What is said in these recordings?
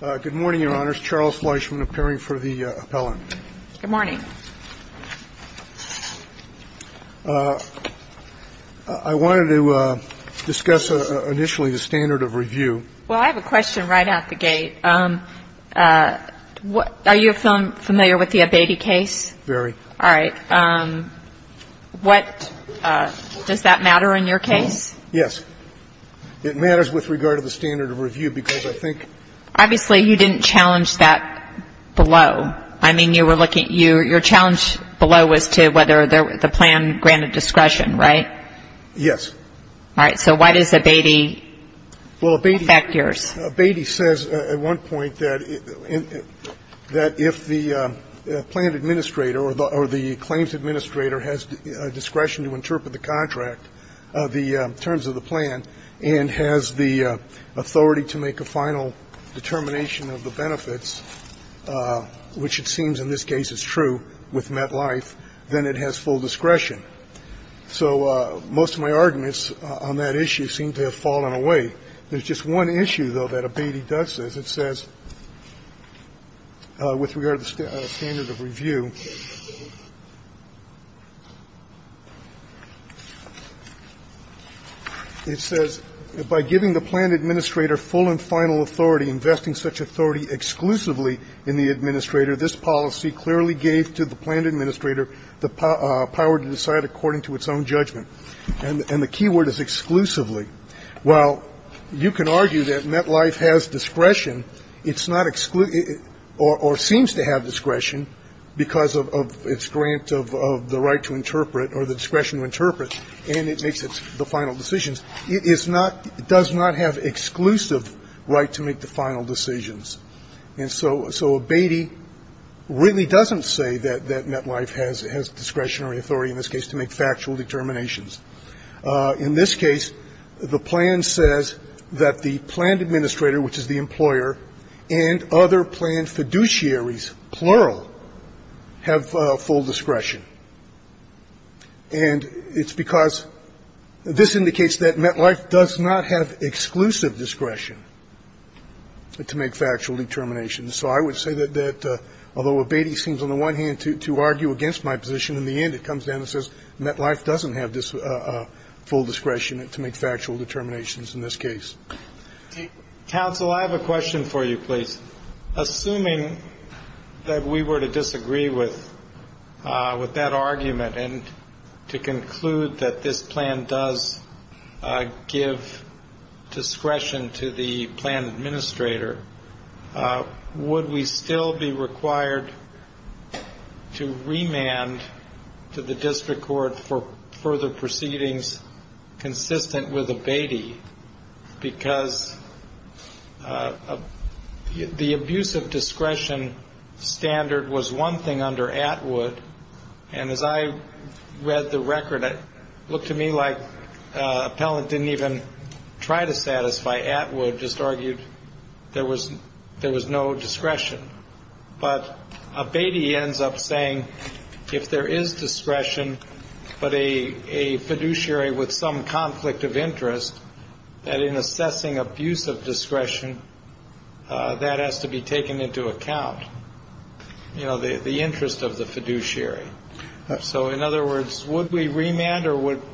Good morning, Your Honors. Charles Fleischman, appearing for the appellant. Good morning. I wanted to discuss initially the standard of review. Well, I have a question right out the gate. Are you familiar with the Abatey case? Very. All right. What does that matter in your case? Yes. It matters with regard to the standard of review, because I think — Obviously, you didn't challenge that below. I mean, you were looking — your challenge below was to whether the plan granted discretion, right? Yes. All right. So why does Abatey affect yours? Abatey says at one point that if the plan administrator or the claims administrator has discretion to interpret the contract, the terms of the plan, and has the authority to make a final determination of the benefits, which it seems in this case is true with MetLife, then it has full discretion. So most of my arguments on that issue seem to have fallen away. There's just one issue, though, that Abatey does says. It says, with regard to the standard of review, it says, by giving the plan administrator full and final authority, investing such authority exclusively in the administrator, this policy clearly gave to the plan administrator the power to decide according to its own judgment. And the key word is exclusively. While you can argue that MetLife has discretion, it's not — or seems to have discretion because of its grant of the right to interpret or the discretion to interpret, and it makes the final decisions, it is not — does not have exclusive right to make the final decisions. And so Abatey really doesn't say that MetLife has discretionary authority in this case to make factual determinations. In this case, the plan says that the plan administrator, which is the employer, and other plan fiduciaries, plural, have full discretion. And it's because this indicates that MetLife does not have exclusive discretion to make factual determinations. So I would say that, although Abatey seems on the one hand to argue against my position, in the end it comes down and says MetLife doesn't have this full discretion to make factual determinations in this case. Counsel, I have a question for you, please. Assuming that we were to disagree with that argument and to conclude that this plan does give discretion to the plan administrator, would we still be required to remand to the district court for further proceedings consistent with Abatey? Because the abuse of discretion standard was one thing under Atwood, and as I read the record, it looked to me like Appellant didn't even try to satisfy Atwood, just argued there was no discretion. But Abatey ends up saying, if there is discretion, but a fiduciary with some conflict of interest, that in assessing abuse of discretion, that has to be taken into account, the interest of the fiduciary. So in other words, would we remand or would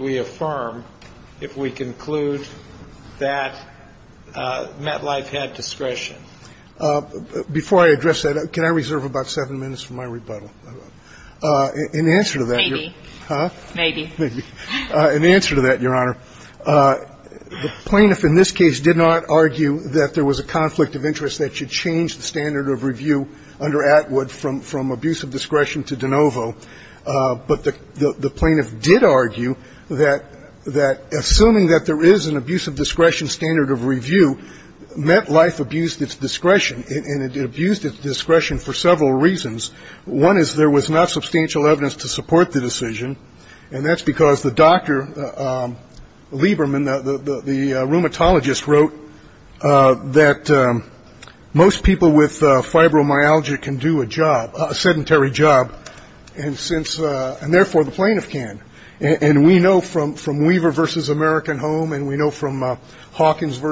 we affirm if we conclude that MetLife had discretion? Before I address that, can I reserve about seven minutes for my rebuttal? In answer to that, Your Honor. Maybe. Huh? Maybe. Maybe. In answer to that, Your Honor, the plaintiff in this case did not argue that there was a conflict of interest that should change the standard of review under Atwood from abuse of discretion to de novo, but the plaintiff did argue that assuming that there is an abuse of discretion standard of review, MetLife abused its discretion, and it abused its discretion for several reasons. One is there was not substantial evidence to support the decision, and that's because the doctor, Lieberman, the rheumatologist, wrote that most people with fibromyalgia can do a job, a sedentary job, and therefore the plaintiff can, and we know from Weaver v. American Home, and we know from Hawkins v.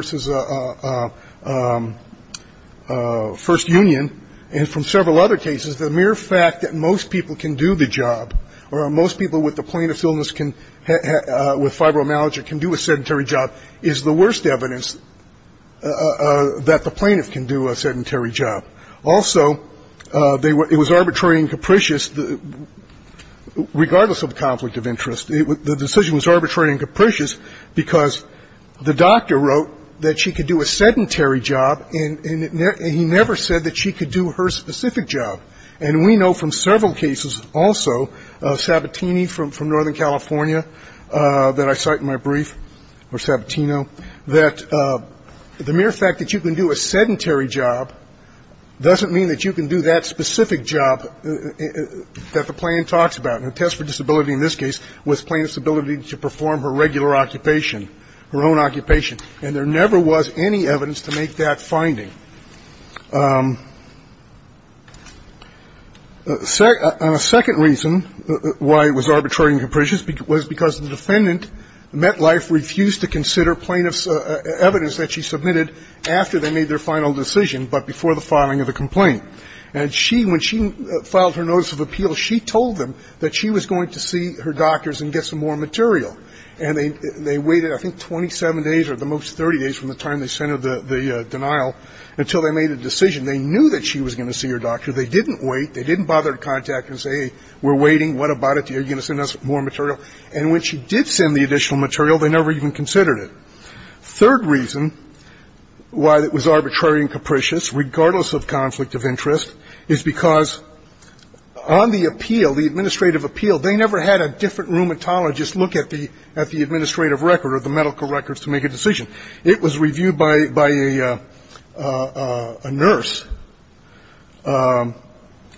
First Union, and from several other cases, the mere fact that most people can do the job, or most people with the plaintiff's illness with fibromyalgia can do a sedentary job is the worst evidence that the plaintiff can do a sedentary job. Also, it was arbitrary and capricious, regardless of the conflict of interest. The decision was arbitrary and capricious because the doctor wrote that she could do a sedentary job, and he never said that she could do her specific job. And we know from several cases also, Sabatini from Northern California, that I cite in my brief, or Sabatino, that the mere fact that you can do a sedentary job doesn't mean that you can do that specific job that the plaintiff talks about. Her test for disability in this case was plaintiff's ability to perform her regular occupation, her own occupation. And there never was any evidence to make that finding. And a second reason why it was arbitrary and capricious was because the defendant met life, refused to consider plaintiff's evidence that she submitted after they made their final decision, but before the filing of the complaint. And she, when she filed her notice of appeal, she told them that she was going to see her doctors and get some more material. And they waited, I think, 27 days or at the most 30 days from the time they sent her the denial until they made a decision. They knew that she was going to see her doctor. They didn't wait. They didn't bother to contact her and say, hey, we're waiting. What about it? Are you going to send us more material? And when she did send the additional material, they never even considered it. Third reason why it was arbitrary and capricious, regardless of conflict of interest, is because on the appeal, the administrative appeal, they never had a different rheumatologist look at the administrative record or the medical records to make a decision. It was reviewed by a nurse.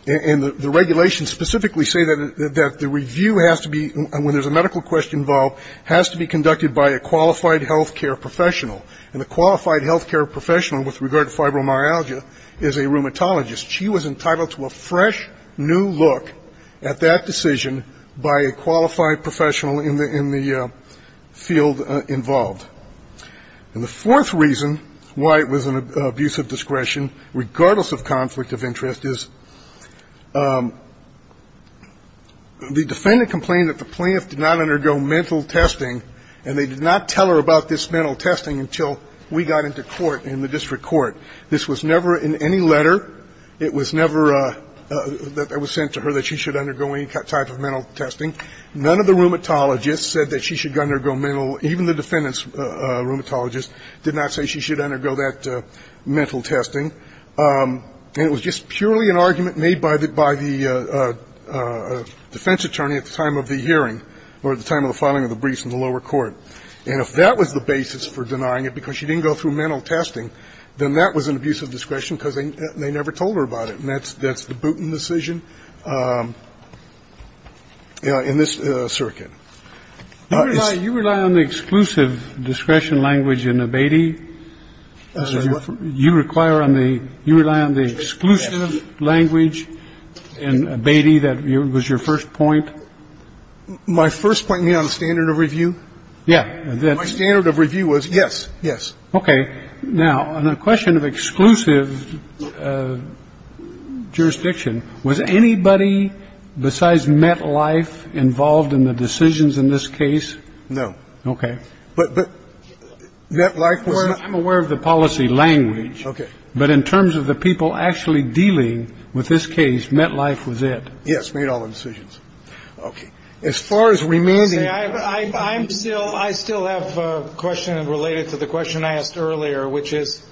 And the regulations specifically say that the review has to be, when there's a medical question involved, has to be conducted by a qualified health care professional. And the qualified health care professional, with regard to fibromyalgia, is a rheumatologist. She was entitled to a fresh, new look at that decision by a qualified professional in the field involved. And the fourth reason why it was an abuse of discretion, regardless of conflict of interest, is the defendant complained that the plaintiff did not undergo mental testing, and they did not tell her about this mental testing until we got into court in the district court. This was never in any letter. It was never that it was sent to her that she should undergo any type of mental testing. None of the rheumatologists said that she should undergo mental. Even the defendant's rheumatologist did not say she should undergo that mental testing. And it was just purely an argument made by the defense attorney at the time of the hearing or at the time of the filing of the briefs in the lower court. And if that was the basis for denying it because she didn't go through mental testing, then that was an abuse of discretion because they never told her about it. And that's the Booten decision in this circuit. You rely on the exclusive discretion language in Abbeyty. You require on the you rely on the exclusive language in Abbeyty. That was your first point. My first point, you mean on the standard of review? Yeah. My standard of review was yes, yes. Okay. Now, on the question of exclusive jurisdiction, was anybody besides MetLife involved in the decisions in this case? No. Okay. But MetLife was not. I'm aware of the policy language. Okay. But in terms of the people actually dealing with this case, MetLife was it. Yes. Made all the decisions. Okay. As far as remaining. I'm still I still have a question related to the question I asked earlier, which is,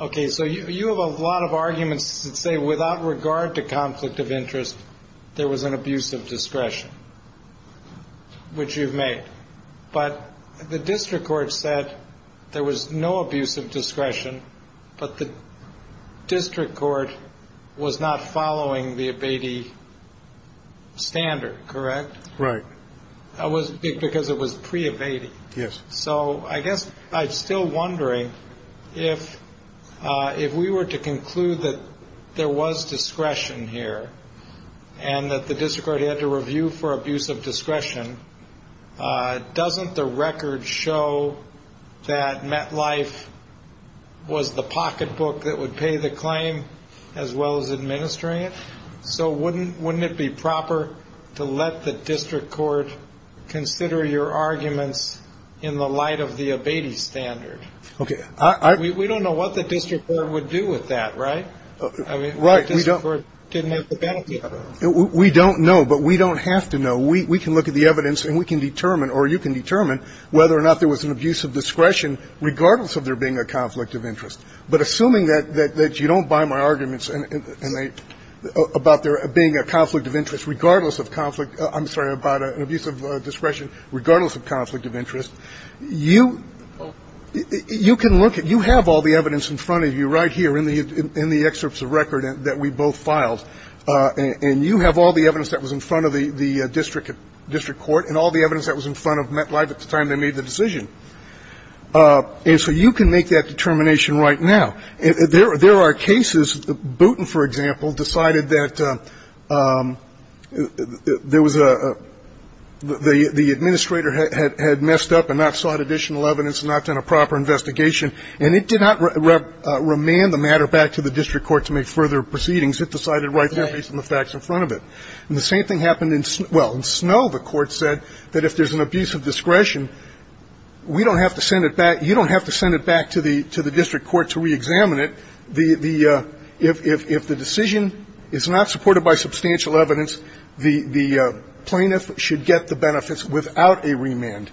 okay. So you have a lot of arguments that say without regard to conflict of interest, there was an abuse of discretion, which you've made. But the district court said there was no abuse of discretion, but the district court was not following the Abbeyty standard, correct? Right. That was because it was pre-Abbeyty. Yes. So I guess I'm still wondering if we were to conclude that there was discretion here and that the district court had to review for abuse of discretion, doesn't the record show that MetLife was the pocketbook that would pay the claim as well as administering it? So wouldn't it be proper to let the district court consider your arguments in the light of the Abbeyty standard? Okay. We don't know what the district court would do with that, right? Right. We don't know, but we don't have to know. We can look at the evidence and we can determine or you can determine whether or not there was an abuse of discretion, regardless of there being a conflict of interest. But assuming that you don't buy my arguments about there being a conflict of interest, regardless of conflict, I'm sorry, about an abuse of discretion, regardless of conflict of interest, you can look at, you have all the evidence in front of you right here in the excerpts of record that we both filed, and you have all the evidence that was in front of the district court and all the evidence that was in front of MetLife at the time they made the decision. And so you can make that determination right now. There are cases, Bootin, for example, decided that there was a, the administrator had messed up and not sought additional evidence and not done a proper investigation, and it did not remand the matter back to the district court to make further proceedings. It decided right there based on the facts in front of it. And the same thing happened in, well, in Snow the court said that if there's an abuse of discretion, we don't have to send it back, you don't have to send it back to the district court to reexamine it. The, if the decision is not supported by substantial evidence, the plaintiff should get the benefits without a remand.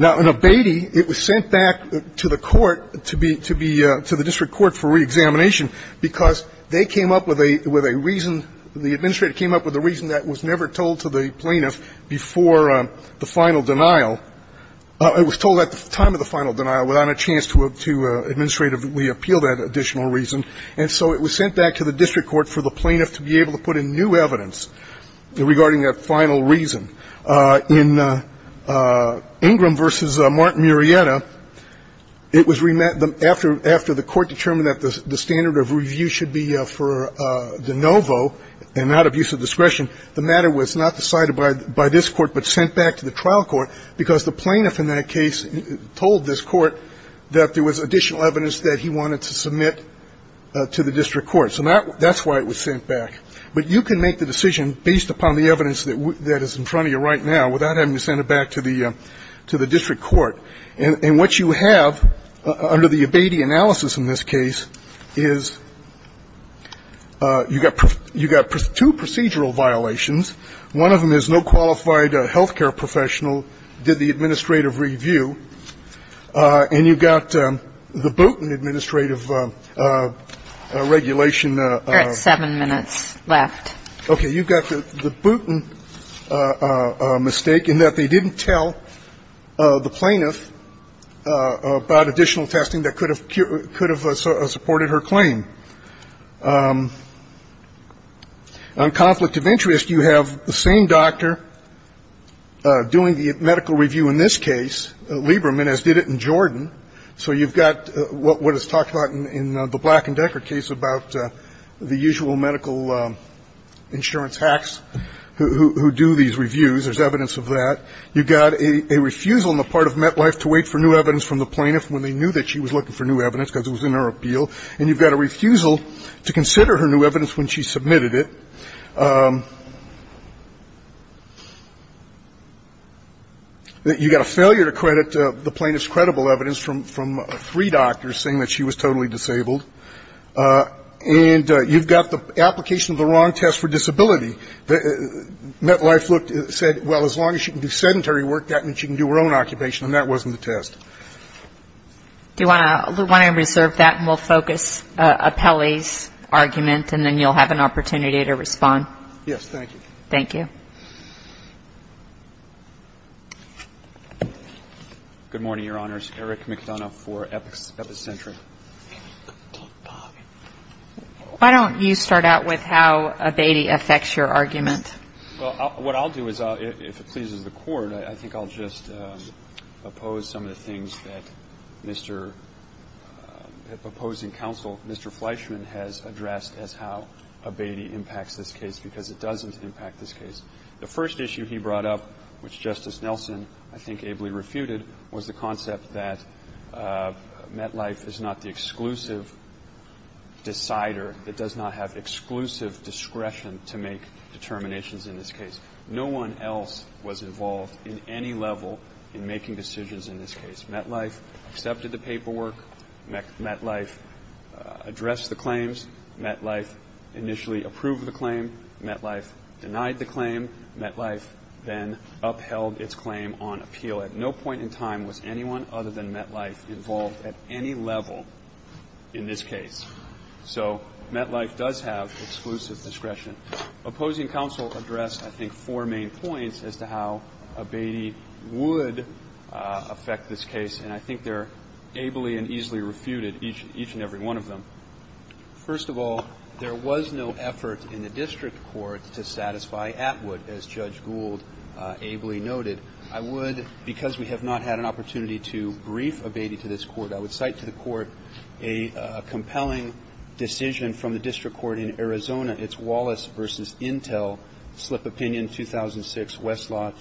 Now, in Abatey, it was sent back to the court to be, to the district court for reexamination, because they came up with a reason, the administrator came up with a reason that was never told to the plaintiff before the final denial. It was told at the time of the final denial without a chance to administratively appeal that additional reason. And so it was sent back to the district court for the plaintiff to be able to put in new evidence regarding that final reason. In Ingram v. Martin Murrieta, it was remanded, after the court determined that the standard of review should be for de novo and not abuse of discretion, the matter was not decided by this court but sent back to the trial court because the plaintiff in that case told this court that there was additional evidence that he wanted to submit to the district court. So that's why it was sent back. But you can make the decision based upon the evidence that is in front of you right now without having to send it back to the district court. And what you have under the Abadie analysis in this case is you've got two procedural violations. One of them is no qualified health care professional did the administrative review, and you've got the Booten administrative regulation. You're at seven minutes left. Okay. You've got the Booten mistake in that they didn't tell the plaintiff about additional testing that could have supported her claim. On conflict of interest, you have the same doctor doing the medical review in this case, Lieberman, as did it in Jordan. So you've got what is talked about in the Black and Decker case about the usual medical insurance hacks who do these reviews. There's evidence of that. You've got a refusal on the part of MetLife to wait for new evidence from the plaintiff when they knew that she was looking for new evidence because it was in her appeal, and you've got a refusal to consider her new evidence when she submitted it. You've got a failure to credit the plaintiff's credible evidence from three doctors saying that she was totally disabled. And you've got the application of the wrong test for disability. MetLife said, well, as long as she can do sedentary work, that means she can do her own occupation, and that wasn't the test. Do you want to reserve that, and we'll focus Apelli's argument, and then you'll have an Do you want to do that? Yes, thank you. Thank you. Good morning, Your Honors. Eric McDonough for Epicentric. Why don't you start out with how Abeyte affects your argument? Well, what I'll do is, if it pleases the Court, I think I'll just oppose some of the The first issue he brought up, which Justice Nelson, I think, ably refuted, was the concept that MetLife is not the exclusive decider. It does not have exclusive discretion to make determinations in this case. No one else was involved in any level in making decisions in this case. MetLife accepted the paperwork. MetLife addressed the claims. MetLife initially approved the claim. MetLife denied the claim. MetLife then upheld its claim on appeal. At no point in time was anyone other than MetLife involved at any level in this case. So MetLife does have exclusive discretion. Opposing counsel addressed, I think, four main points as to how Abeyte would affect this case, and I think they're ably and easily refuted, each and every one of them. First of all, there was no effort in the district court to satisfy Atwood, as Judge Gould ably noted. I would, because we have not had an opportunity to brief Abeyte to this Court, I would cite to the Court a compelling decision from the district court in Arizona. It's Wallace v. Intel, Slip Opinion, 2006, Westlaw,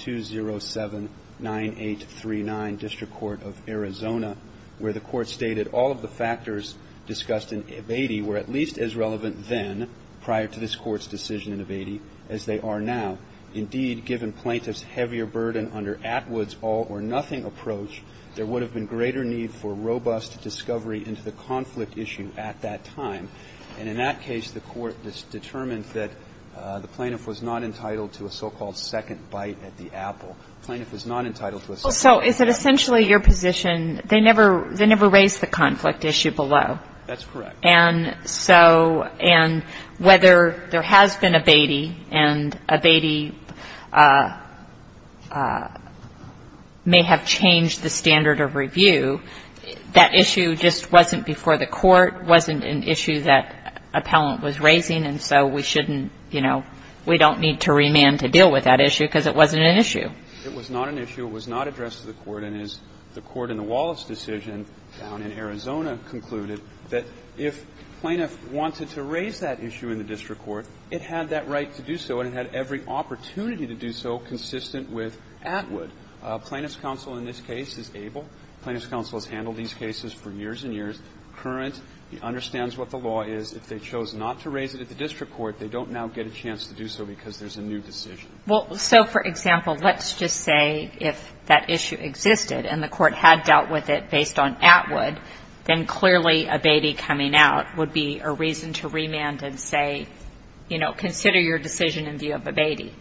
207-9839, District Court of Arizona, where the Court stated all of the factors discussed in Abeyte were at least as relevant then, prior to this Court's decision in Abeyte, as they are now. Indeed, given plaintiff's heavier burden under Atwood's all-or-nothing approach, there would have been greater need for robust discovery into the conflict issue at that time. And in that case, the Court determined that the plaintiff was not entitled to a so-called second bite at the apple. So is it essentially your position they never raised the conflict issue below? That's correct. And so, and whether there has been Abeyte, and Abeyte may have changed the standard of review, that issue just wasn't before the Court, wasn't an issue that appellant was raising, and so we shouldn't, you know, we don't need to remand to deal with that issue because it wasn't an issue. It was not an issue. It was not addressed to the Court, and as the Court in the Wallace decision down in Arizona concluded, that if plaintiff wanted to raise that issue in the district court, it had that right to do so, and it had every opportunity to do so consistent with Atwood. Plaintiff's counsel in this case is able. Plaintiff's counsel has handled these cases for years and years. Current, he understands what the law is. If they chose not to raise it at the district court, they don't now get a chance to do so because there's a new decision. Well, so, for example, let's just say if that issue existed and the Court had dealt with it based on Atwood, then clearly Abeyte coming out would be a reason to remand and say, you know, consider your decision in view of Abeyte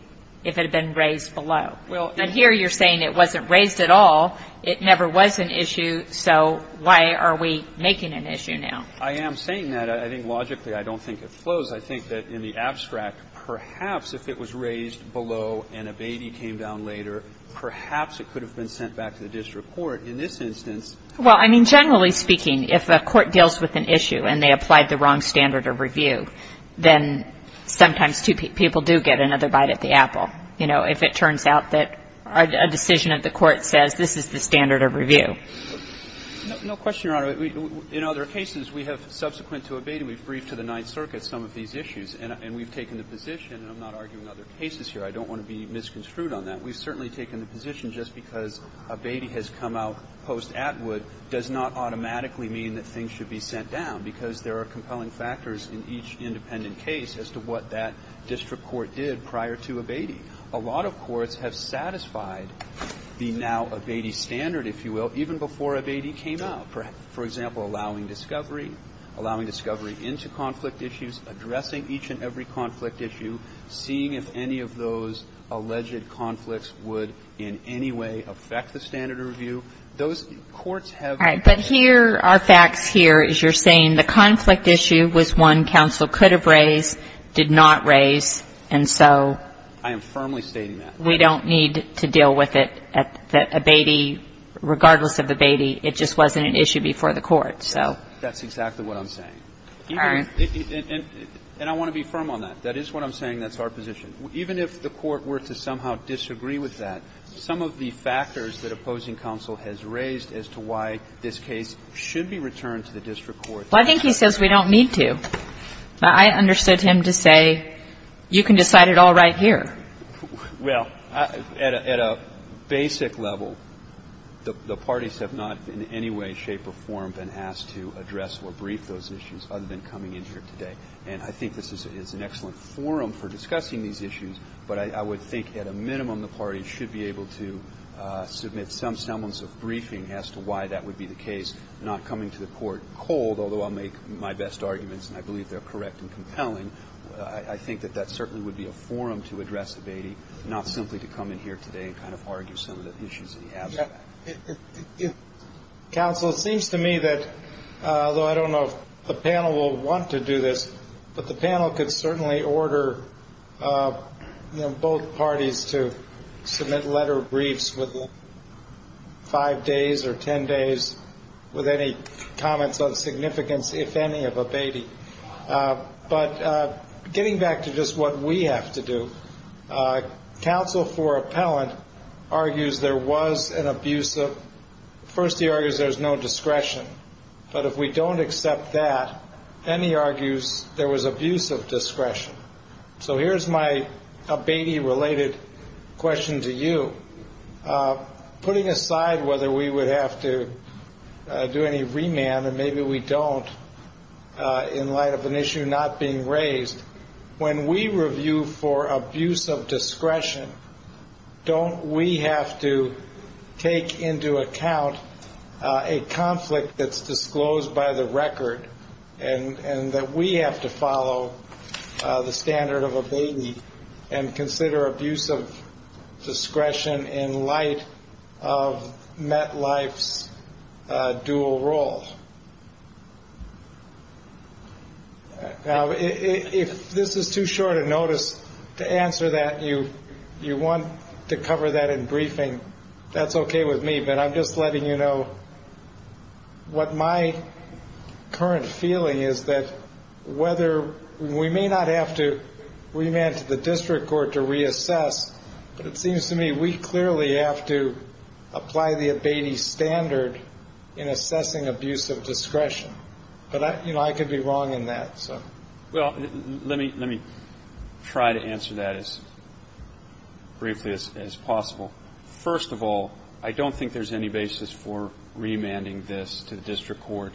if it had been raised below. Well, and here you're saying it wasn't raised at all. It never was an issue, so why are we making an issue now? I am saying that. I think logically I don't think it flows. I think that in the abstract, perhaps if it was raised below and Abeyte came down later, perhaps it could have been sent back to the district court. In this instance ---- Well, I mean, generally speaking, if a court deals with an issue and they applied the wrong standard of review, then sometimes two people do get another bite at the apple, you know, if it turns out that a decision at the court says this is the standard of review. No question, Your Honor. In other cases, we have subsequent to Abeyte, we've briefed to the Ninth Circuit some of these issues, and we've taken the position, and I'm not arguing other cases here, I don't want to be misconstrued on that, we've certainly taken the position just because Abeyte has come out post-Atwood does not automatically mean that things should be sent down, because there are compelling factors in each independent case as to what that district court did prior to Abeyte. A lot of courts have satisfied the now-Abeyte standard, if you will, even before Abeyte came out. For example, allowing discovery, allowing discovery into conflict issues, addressing each and every conflict issue, seeing if any of those alleged conflicts would in any way affect the standard of review. Those courts have ---- All right. But here, our facts here is you're saying the conflict issue was one counsel could have raised, did not raise, and so ---- I am firmly stating that. We don't need to deal with it at Abeyte, regardless of Abeyte, it just wasn't an issue before the Court, so ---- That's exactly what I'm saying. All right. And I want to be firm on that. That is what I'm saying. That's our position. Even if the Court were to somehow disagree with that, some of the factors that opposing counsel has raised as to why this case should be returned to the district court ---- Well, I think he says we don't need to. I understood him to say you can decide it all right here. Well, at a basic level, the parties have not in any way, shape, or form been asked to address or brief those issues other than coming in here today. And I think this is an excellent forum for discussing these issues, but I would think at a minimum the parties should be able to submit some semblance of briefing as to why that would be the case, not coming to the Court cold, although I'll make my best arguments, and I believe they're correct and compelling. I think that that certainly would be a forum to address Abatey, not simply to come in here today and kind of argue some of the issues that he has. Counsel, it seems to me that, although I don't know if the panel will want to do this, but the panel could certainly order both parties to submit letter briefs within five days or ten days with any comments of significance, if any, of Abatey. But getting back to just what we have to do, counsel for appellant argues there was an abuse of ---- first, he argues there's no discretion. But if we don't accept that, then he argues there was abuse of discretion. So here's my Abatey-related question to you. Putting aside whether we would have to do any remand, and maybe we don't, in light of an issue not being raised, when we review for abuse of discretion, don't we have to take into account a conflict that's disclosed by the record and that we have to follow the standard of Abatey and consider abuse of discretion in light of MetLife's dual role? Now, if this is too short a notice to answer that, you want to cover that in briefing, that's okay with me, but I'm just letting you know what my current feeling is that whether we may not have to remand to the district court to reassess, but it seems to me we clearly have to apply the Abatey standard in assessing abuse of discretion. But, you know, I could be wrong in that, so. Well, let me try to answer that as briefly as possible. First of all, I don't think there's any basis for remanding this to the district court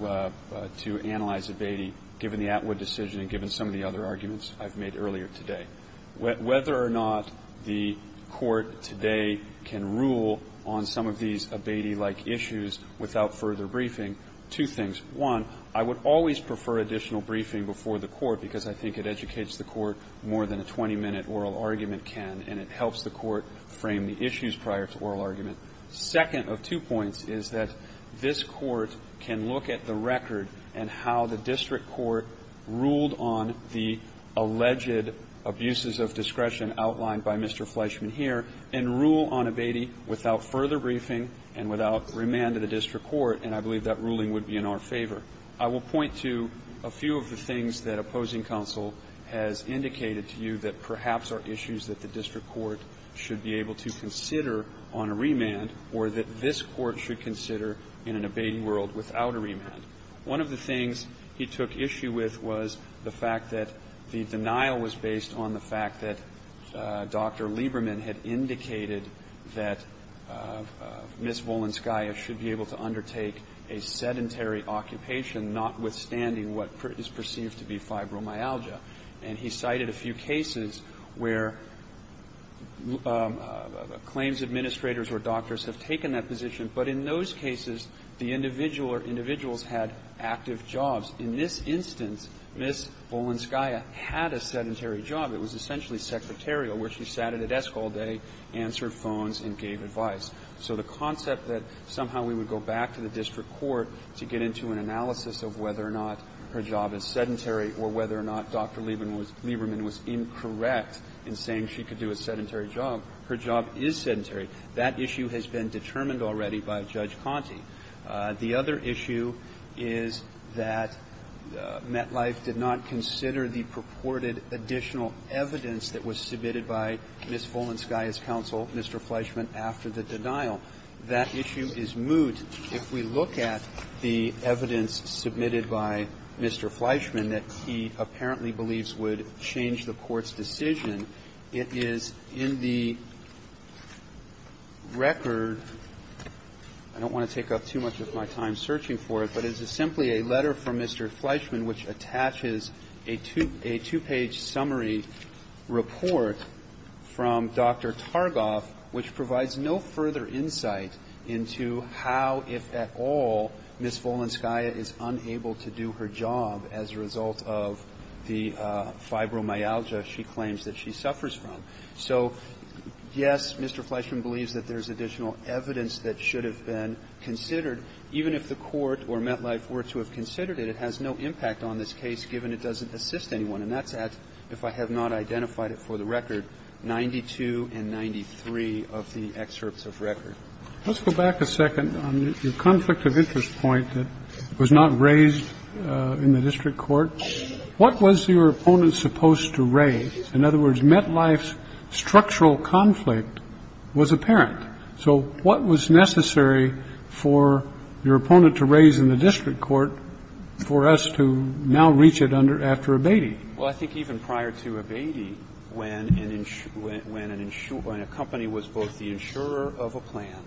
to analyze Abatey, given the Atwood decision and given some of the other arguments I've made earlier today. Whether or not the court today can rule on some of these Abatey-like issues without further briefing, two things. One, I would always prefer additional briefing before the court, because I think it educates the court more than a 20-minute oral argument can, and it helps the court frame the issues prior to oral argument. Second of two points is that this court can look at the record and how the district court ruled on the alleged abuses of discretion outlined by Mr. Fleischman here and rule on Abatey without further briefing and without remand to the district court, and I believe that ruling would be in our favor. I will point to a few of the things that opposing counsel has indicated to you that should consider in an Abatey world without a remand. One of the things he took issue with was the fact that the denial was based on the fact that Dr. Lieberman had indicated that Ms. Volenskaya should be able to undertake a sedentary occupation, notwithstanding what is perceived to be fibromyalgia. And he cited a few cases where claims administrators or doctors have taken that position, but in those cases, the individual or individuals had active jobs. In this instance, Ms. Volenskaya had a sedentary job. It was essentially secretarial, where she sat at a desk all day, answered phones, and gave advice. So the concept that somehow we would go back to the district court to get into an analysis of whether or not her job is sedentary or whether or not Dr. Lieberman was incorrect in saying she could do a sedentary job, her job is sedentary, that issue has been determined already by Judge Conte. The other issue is that MetLife did not consider the purported additional evidence that was submitted by Ms. Volenskaya's counsel, Mr. Fleischman, after the denial. That issue is moot if we look at the evidence submitted by Mr. Fleischman that he apparently believes would change the court's decision. It is in the record – I don't want to take up too much of my time searching for it, but it is simply a letter from Mr. Fleischman which attaches a two-page summary report from Dr. Targoff which provides no further insight into how, if at all, Ms. Volenskaya is unable to do her job as a result of the fibromyalgia she claims that she suffers from. So, yes, Mr. Fleischman believes that there's additional evidence that should have been considered, even if the court or MetLife were to have considered it, it has no impact on this case, given it doesn't assist anyone. And that's at, if I have not identified it for the record, 92 and 93 of the excerpts of record. Let's go back a second on your conflict of interest point that was not raised in the district court. What was your opponent supposed to raise? In other words, MetLife's structural conflict was apparent. So what was necessary for your opponent to raise in the district court for us to now reach it under, after abating? Well, I think even prior to abating, when an insurer, when a company was both the insurer of a plan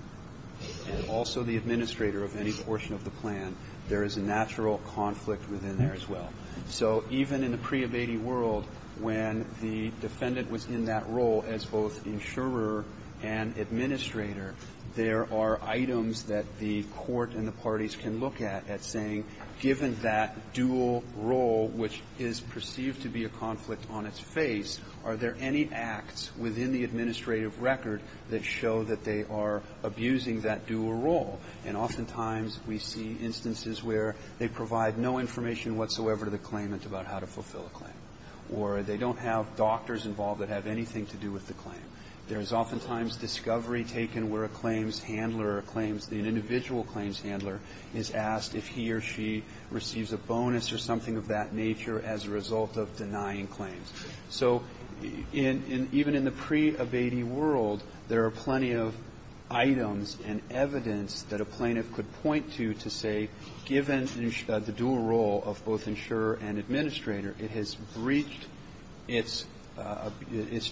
and also the administrator of any portion of the plan, there is a natural conflict within there as well. So even in the pre-abating world, when the defendant was in that role as both insurer and administrator, there are items that the court and the parties can look at, at saying, given that dual role, which is perceived to be a conflict on its face, are there any acts within the administrative record that show that they are abusing that dual role? And oftentimes we see instances where they provide no information whatsoever to the claimant about how to fulfill a claim, or they don't have doctors involved that have anything to do with the claim. There is oftentimes discovery taken where a claims handler, an individual claims handler, is asked if he or she receives a bonus or something of that nature as a result of denying claims. So even in the pre-abating world, there are plenty of items and evidence that a plaintiff could point to, to say, given the dual role of both insurer and administrator, it has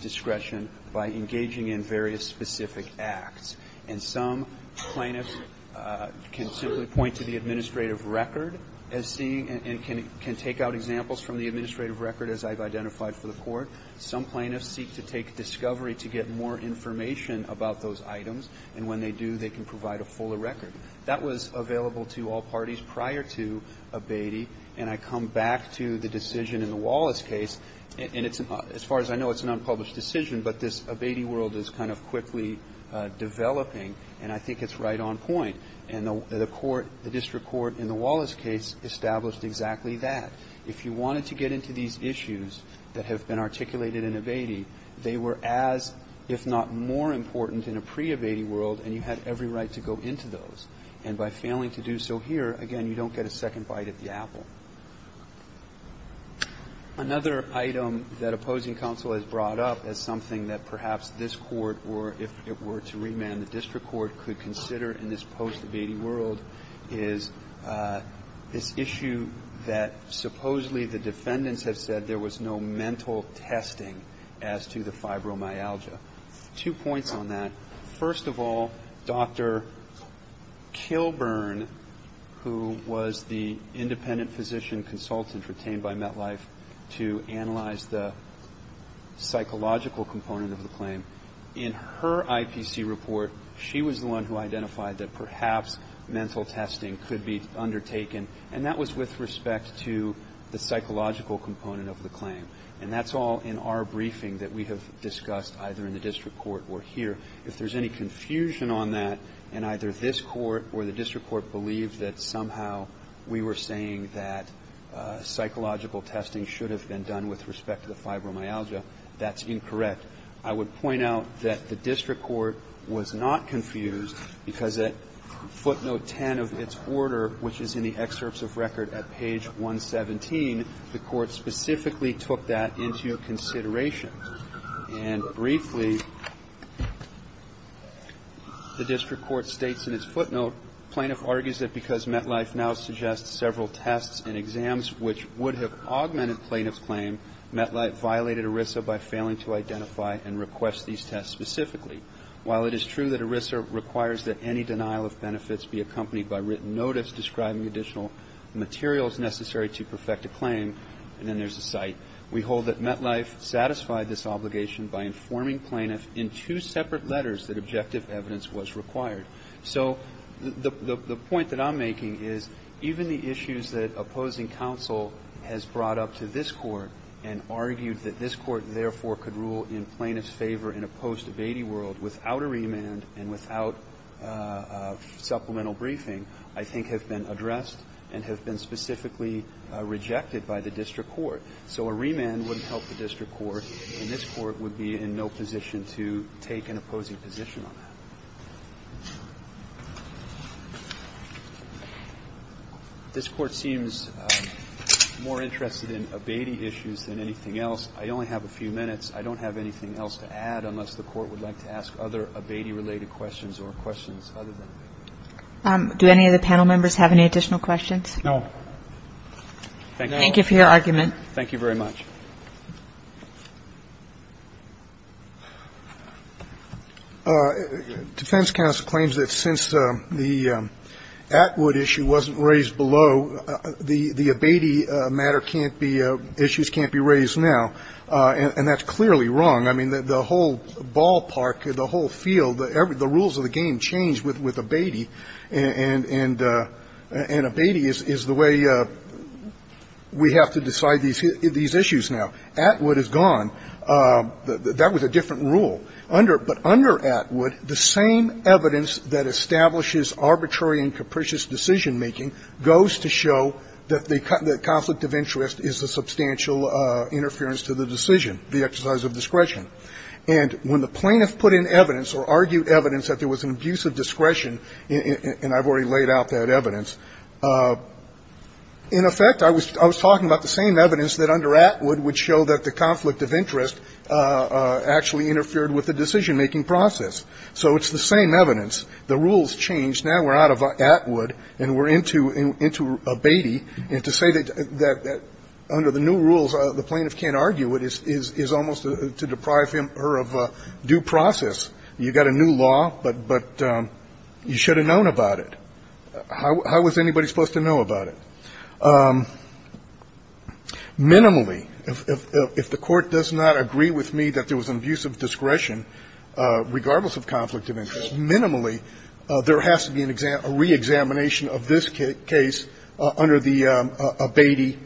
discretion by engaging in various specific acts. And some plaintiffs can simply point to the administrative record as seeing, and can take out examples from the administrative record as I've identified for the court. Some plaintiffs seek to take discovery to get more information about those items. And when they do, they can provide a fuller record. That was available to all parties prior to abating. And I come back to the decision in the Wallace case, and as far as I know, it's an unpublished decision, but this abating world is kind of quickly developing, and I think it's right on point. And the court, the district court in the Wallace case established exactly that. If you wanted to get into these issues that have been articulated in abating, they were as, if not more important in a pre-abating world, and you had every right to go into those. And by failing to do so here, again, you don't get a second bite at the apple. Another item that opposing counsel has brought up as something that perhaps this court, or if it were to remand the district court, could consider in this post-abating world is this issue that supposedly the defendants have said there was no mental testing as to the fibromyalgia. Two points on that. First of all, Dr. Kilburn, who was the independent physician consultant retained by MetLife to analyze the psychological component of the claim, in her IPC report, she was the one who identified that perhaps mental testing could be undertaken, and that was with respect to the psychological component of the claim. And that's all in our briefing that we have discussed, either in the district court or here. If there's any confusion on that, and either this court or the district court believed that somehow we were saying that psychological testing should have been done with respect to the fibromyalgia, that's incorrect. I would point out that the district court was not confused because at footnote 10 of its order, which is in the excerpts of record at page 117, the court specifically took that into consideration. And briefly, the district court states in its footnote, plaintiff argues that because MetLife now suggests several tests and exams which would have augmented plaintiff's claim, MetLife violated ERISA by failing to identify and request these tests specifically. While it is true that ERISA requires that any denial of benefits be accompanied by written notice describing additional materials necessary to perfect a claim, and there's a cite, we hold that MetLife satisfied this obligation by informing plaintiff in two separate letters that objective evidence was required. So the point that I'm making is even the issues that opposing counsel has brought up to this court and argued that this court therefore could rule in plaintiff's favor in a post-debatey world without a remand and without supplemental briefing, I think have been addressed and have been specifically rejected by the district court. So a remand wouldn't help the district court and this court would be in no position to take an opposing position on that. This court seems more interested in abatey issues than anything else. I only have a few minutes. I don't have anything else to add unless the court would like to ask other abatey related questions or questions other than abatey. Do any of the panel members have any additional questions? No. Thank you for your argument. Thank you very much. Defense counsel claims that since the Atwood issue wasn't raised below the abatey matter can't be, issues can't be raised now. And that's clearly wrong. I mean, the whole ballpark, the whole field, the rules of the game changed with abatey and abatey is the way we have to decide these issues now. Atwood is gone. That was a different rule. But under Atwood, the same evidence that establishes arbitrary and capricious decision-making goes to show that the conflict of interest is a substantial interference to the decision, the exercise of discretion. And when the plaintiff put in evidence or argued evidence that there was an abuse of discretion, and I've already laid out that evidence, in effect, I was talking about the same evidence that under Atwood would show that the conflict of interest actually interfered with the decision-making process. So it's the same evidence. The rules changed. Now we're out of Atwood and we're into abatey. And to say that under the new rules, the plaintiff can't argue it is almost to deprive him or her of due process. You've got a new law, but you should have known about it. How was anybody supposed to know about it? Minimally, if the Court does not agree with me that there was an abuse of discretion, regardless of conflict of interest, minimally, there has to be a reexamination of this case under the abatey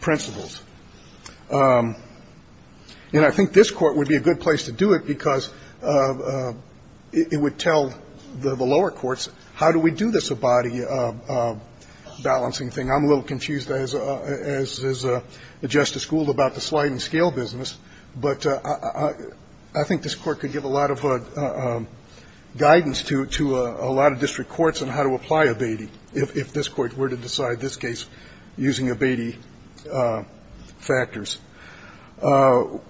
principles. And I think this Court would be a good place to do it because it would tell the lower courts, how do we do this abatey balancing thing? I'm a little confused, as is Justice Gould, about the sliding scale business. But I think this Court could give a lot of guidance to a lot of district courts on how to apply abatey if this Court were to decide this case using abatey principles. So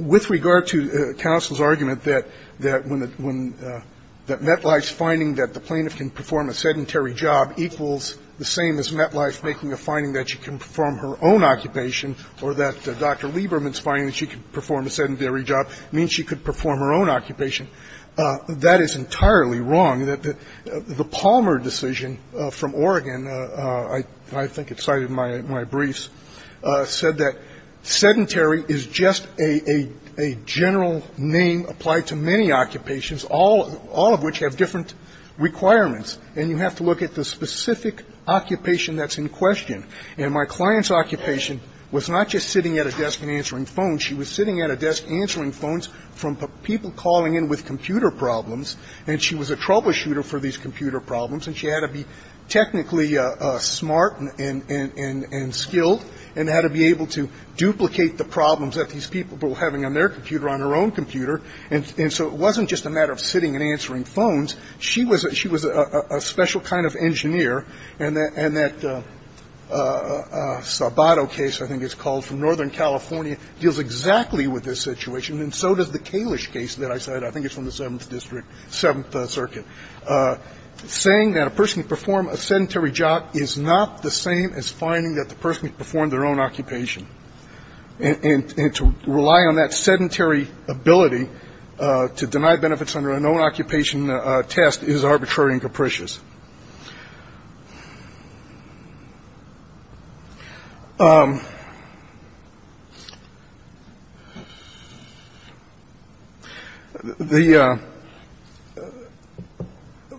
when it comes to met-life, that's the subject of Pennsylvania court and getting past some of the, and I apologize, some of the bumps and trips and factors. With regard to counsel's argument that when the met-life finding that the plaintiff can perform a sedentary job, equals the same as met-life making the finding that she can perform her own occupation or that Dr. Lieberman's finding that she could perform a sedentary job means she could perform her own occupation. That is entirely wrong. The Palmer decision from Oregon, I think it's cited in my briefs, said that sedentary is just a general name applied to many occupations, all of which have different requirements, and you have to look at the specific occupation that's in question. And my client's occupation was not just sitting at a desk and answering phones. She was sitting at a desk answering phones from people calling in with computer problems, and she was a troubleshooter for these computer problems, and she had to be technically smart and skilled and had to be able to duplicate the problems that these people were having on their computer, on her own computer. And so it wasn't just a matter of sitting and answering phones. She was a special kind of engineer, and that Sabato case, I think it's called, from Northern California, deals exactly with this situation, and so does the Kalish case that I cited. I think it's from the Seventh District, Seventh Circuit. Saying that a person could perform a sedentary job is not the same as finding that the person could perform their own occupation. And to rely on that sedentary ability to deny benefits under a known occupation test is arbitrary and capricious.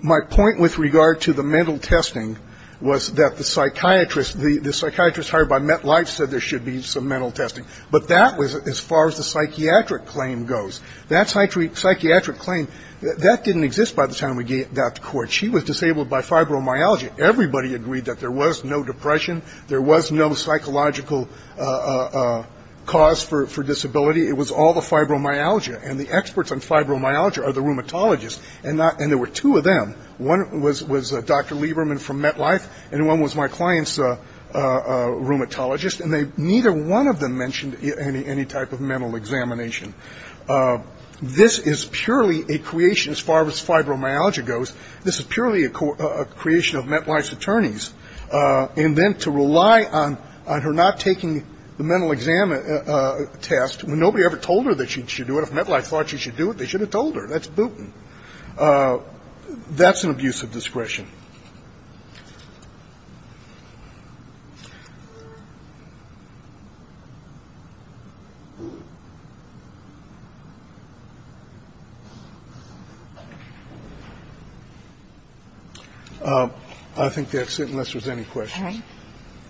My point with regard to the mental testing was that the psychiatrist, the psychiatrist hired by MetLife said there should be some mental testing. But that was as far as the psychiatric claim goes. That psychiatric claim, that didn't exist by the time we got to court. She was disabled by fibromyalgia. Everybody agreed that there was no depression. There was no psychological cause for disability. It was all the fibromyalgia, and the experts on fibromyalgia are the rheumatologists, and there were two of them. One was Dr. Lieberman from MetLife, and one was my client's rheumatologist, and neither one of them mentioned any type of mental examination. This is purely a creation, as far as fibromyalgia goes, this is purely a creation of MetLife's attorneys, and then to rely on her not taking the mental exam test, when nobody ever told her that she should do it. If MetLife thought she should do it, they should have told her. That's an abuse of discretion. I think that's it, unless there's any questions. All right.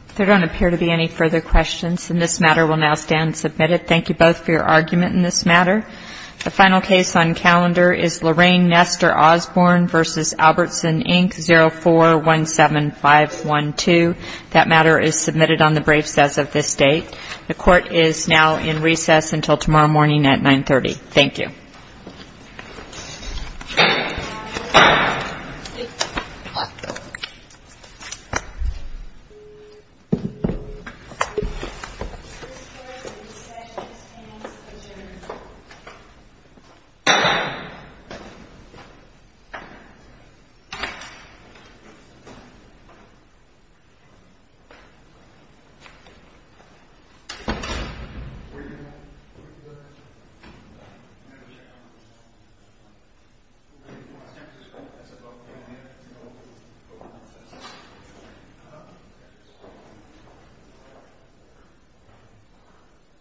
If there don't appear to be any further questions, then this matter will now stand submitted. Thank you both for your argument in this matter. The final case on calendar is Lorraine Nestor Osborne v. Albertson, Inc., 04-17512. That matter is submitted on the braves as of this date. The court is now in recess until tomorrow morning at 930. Thank you.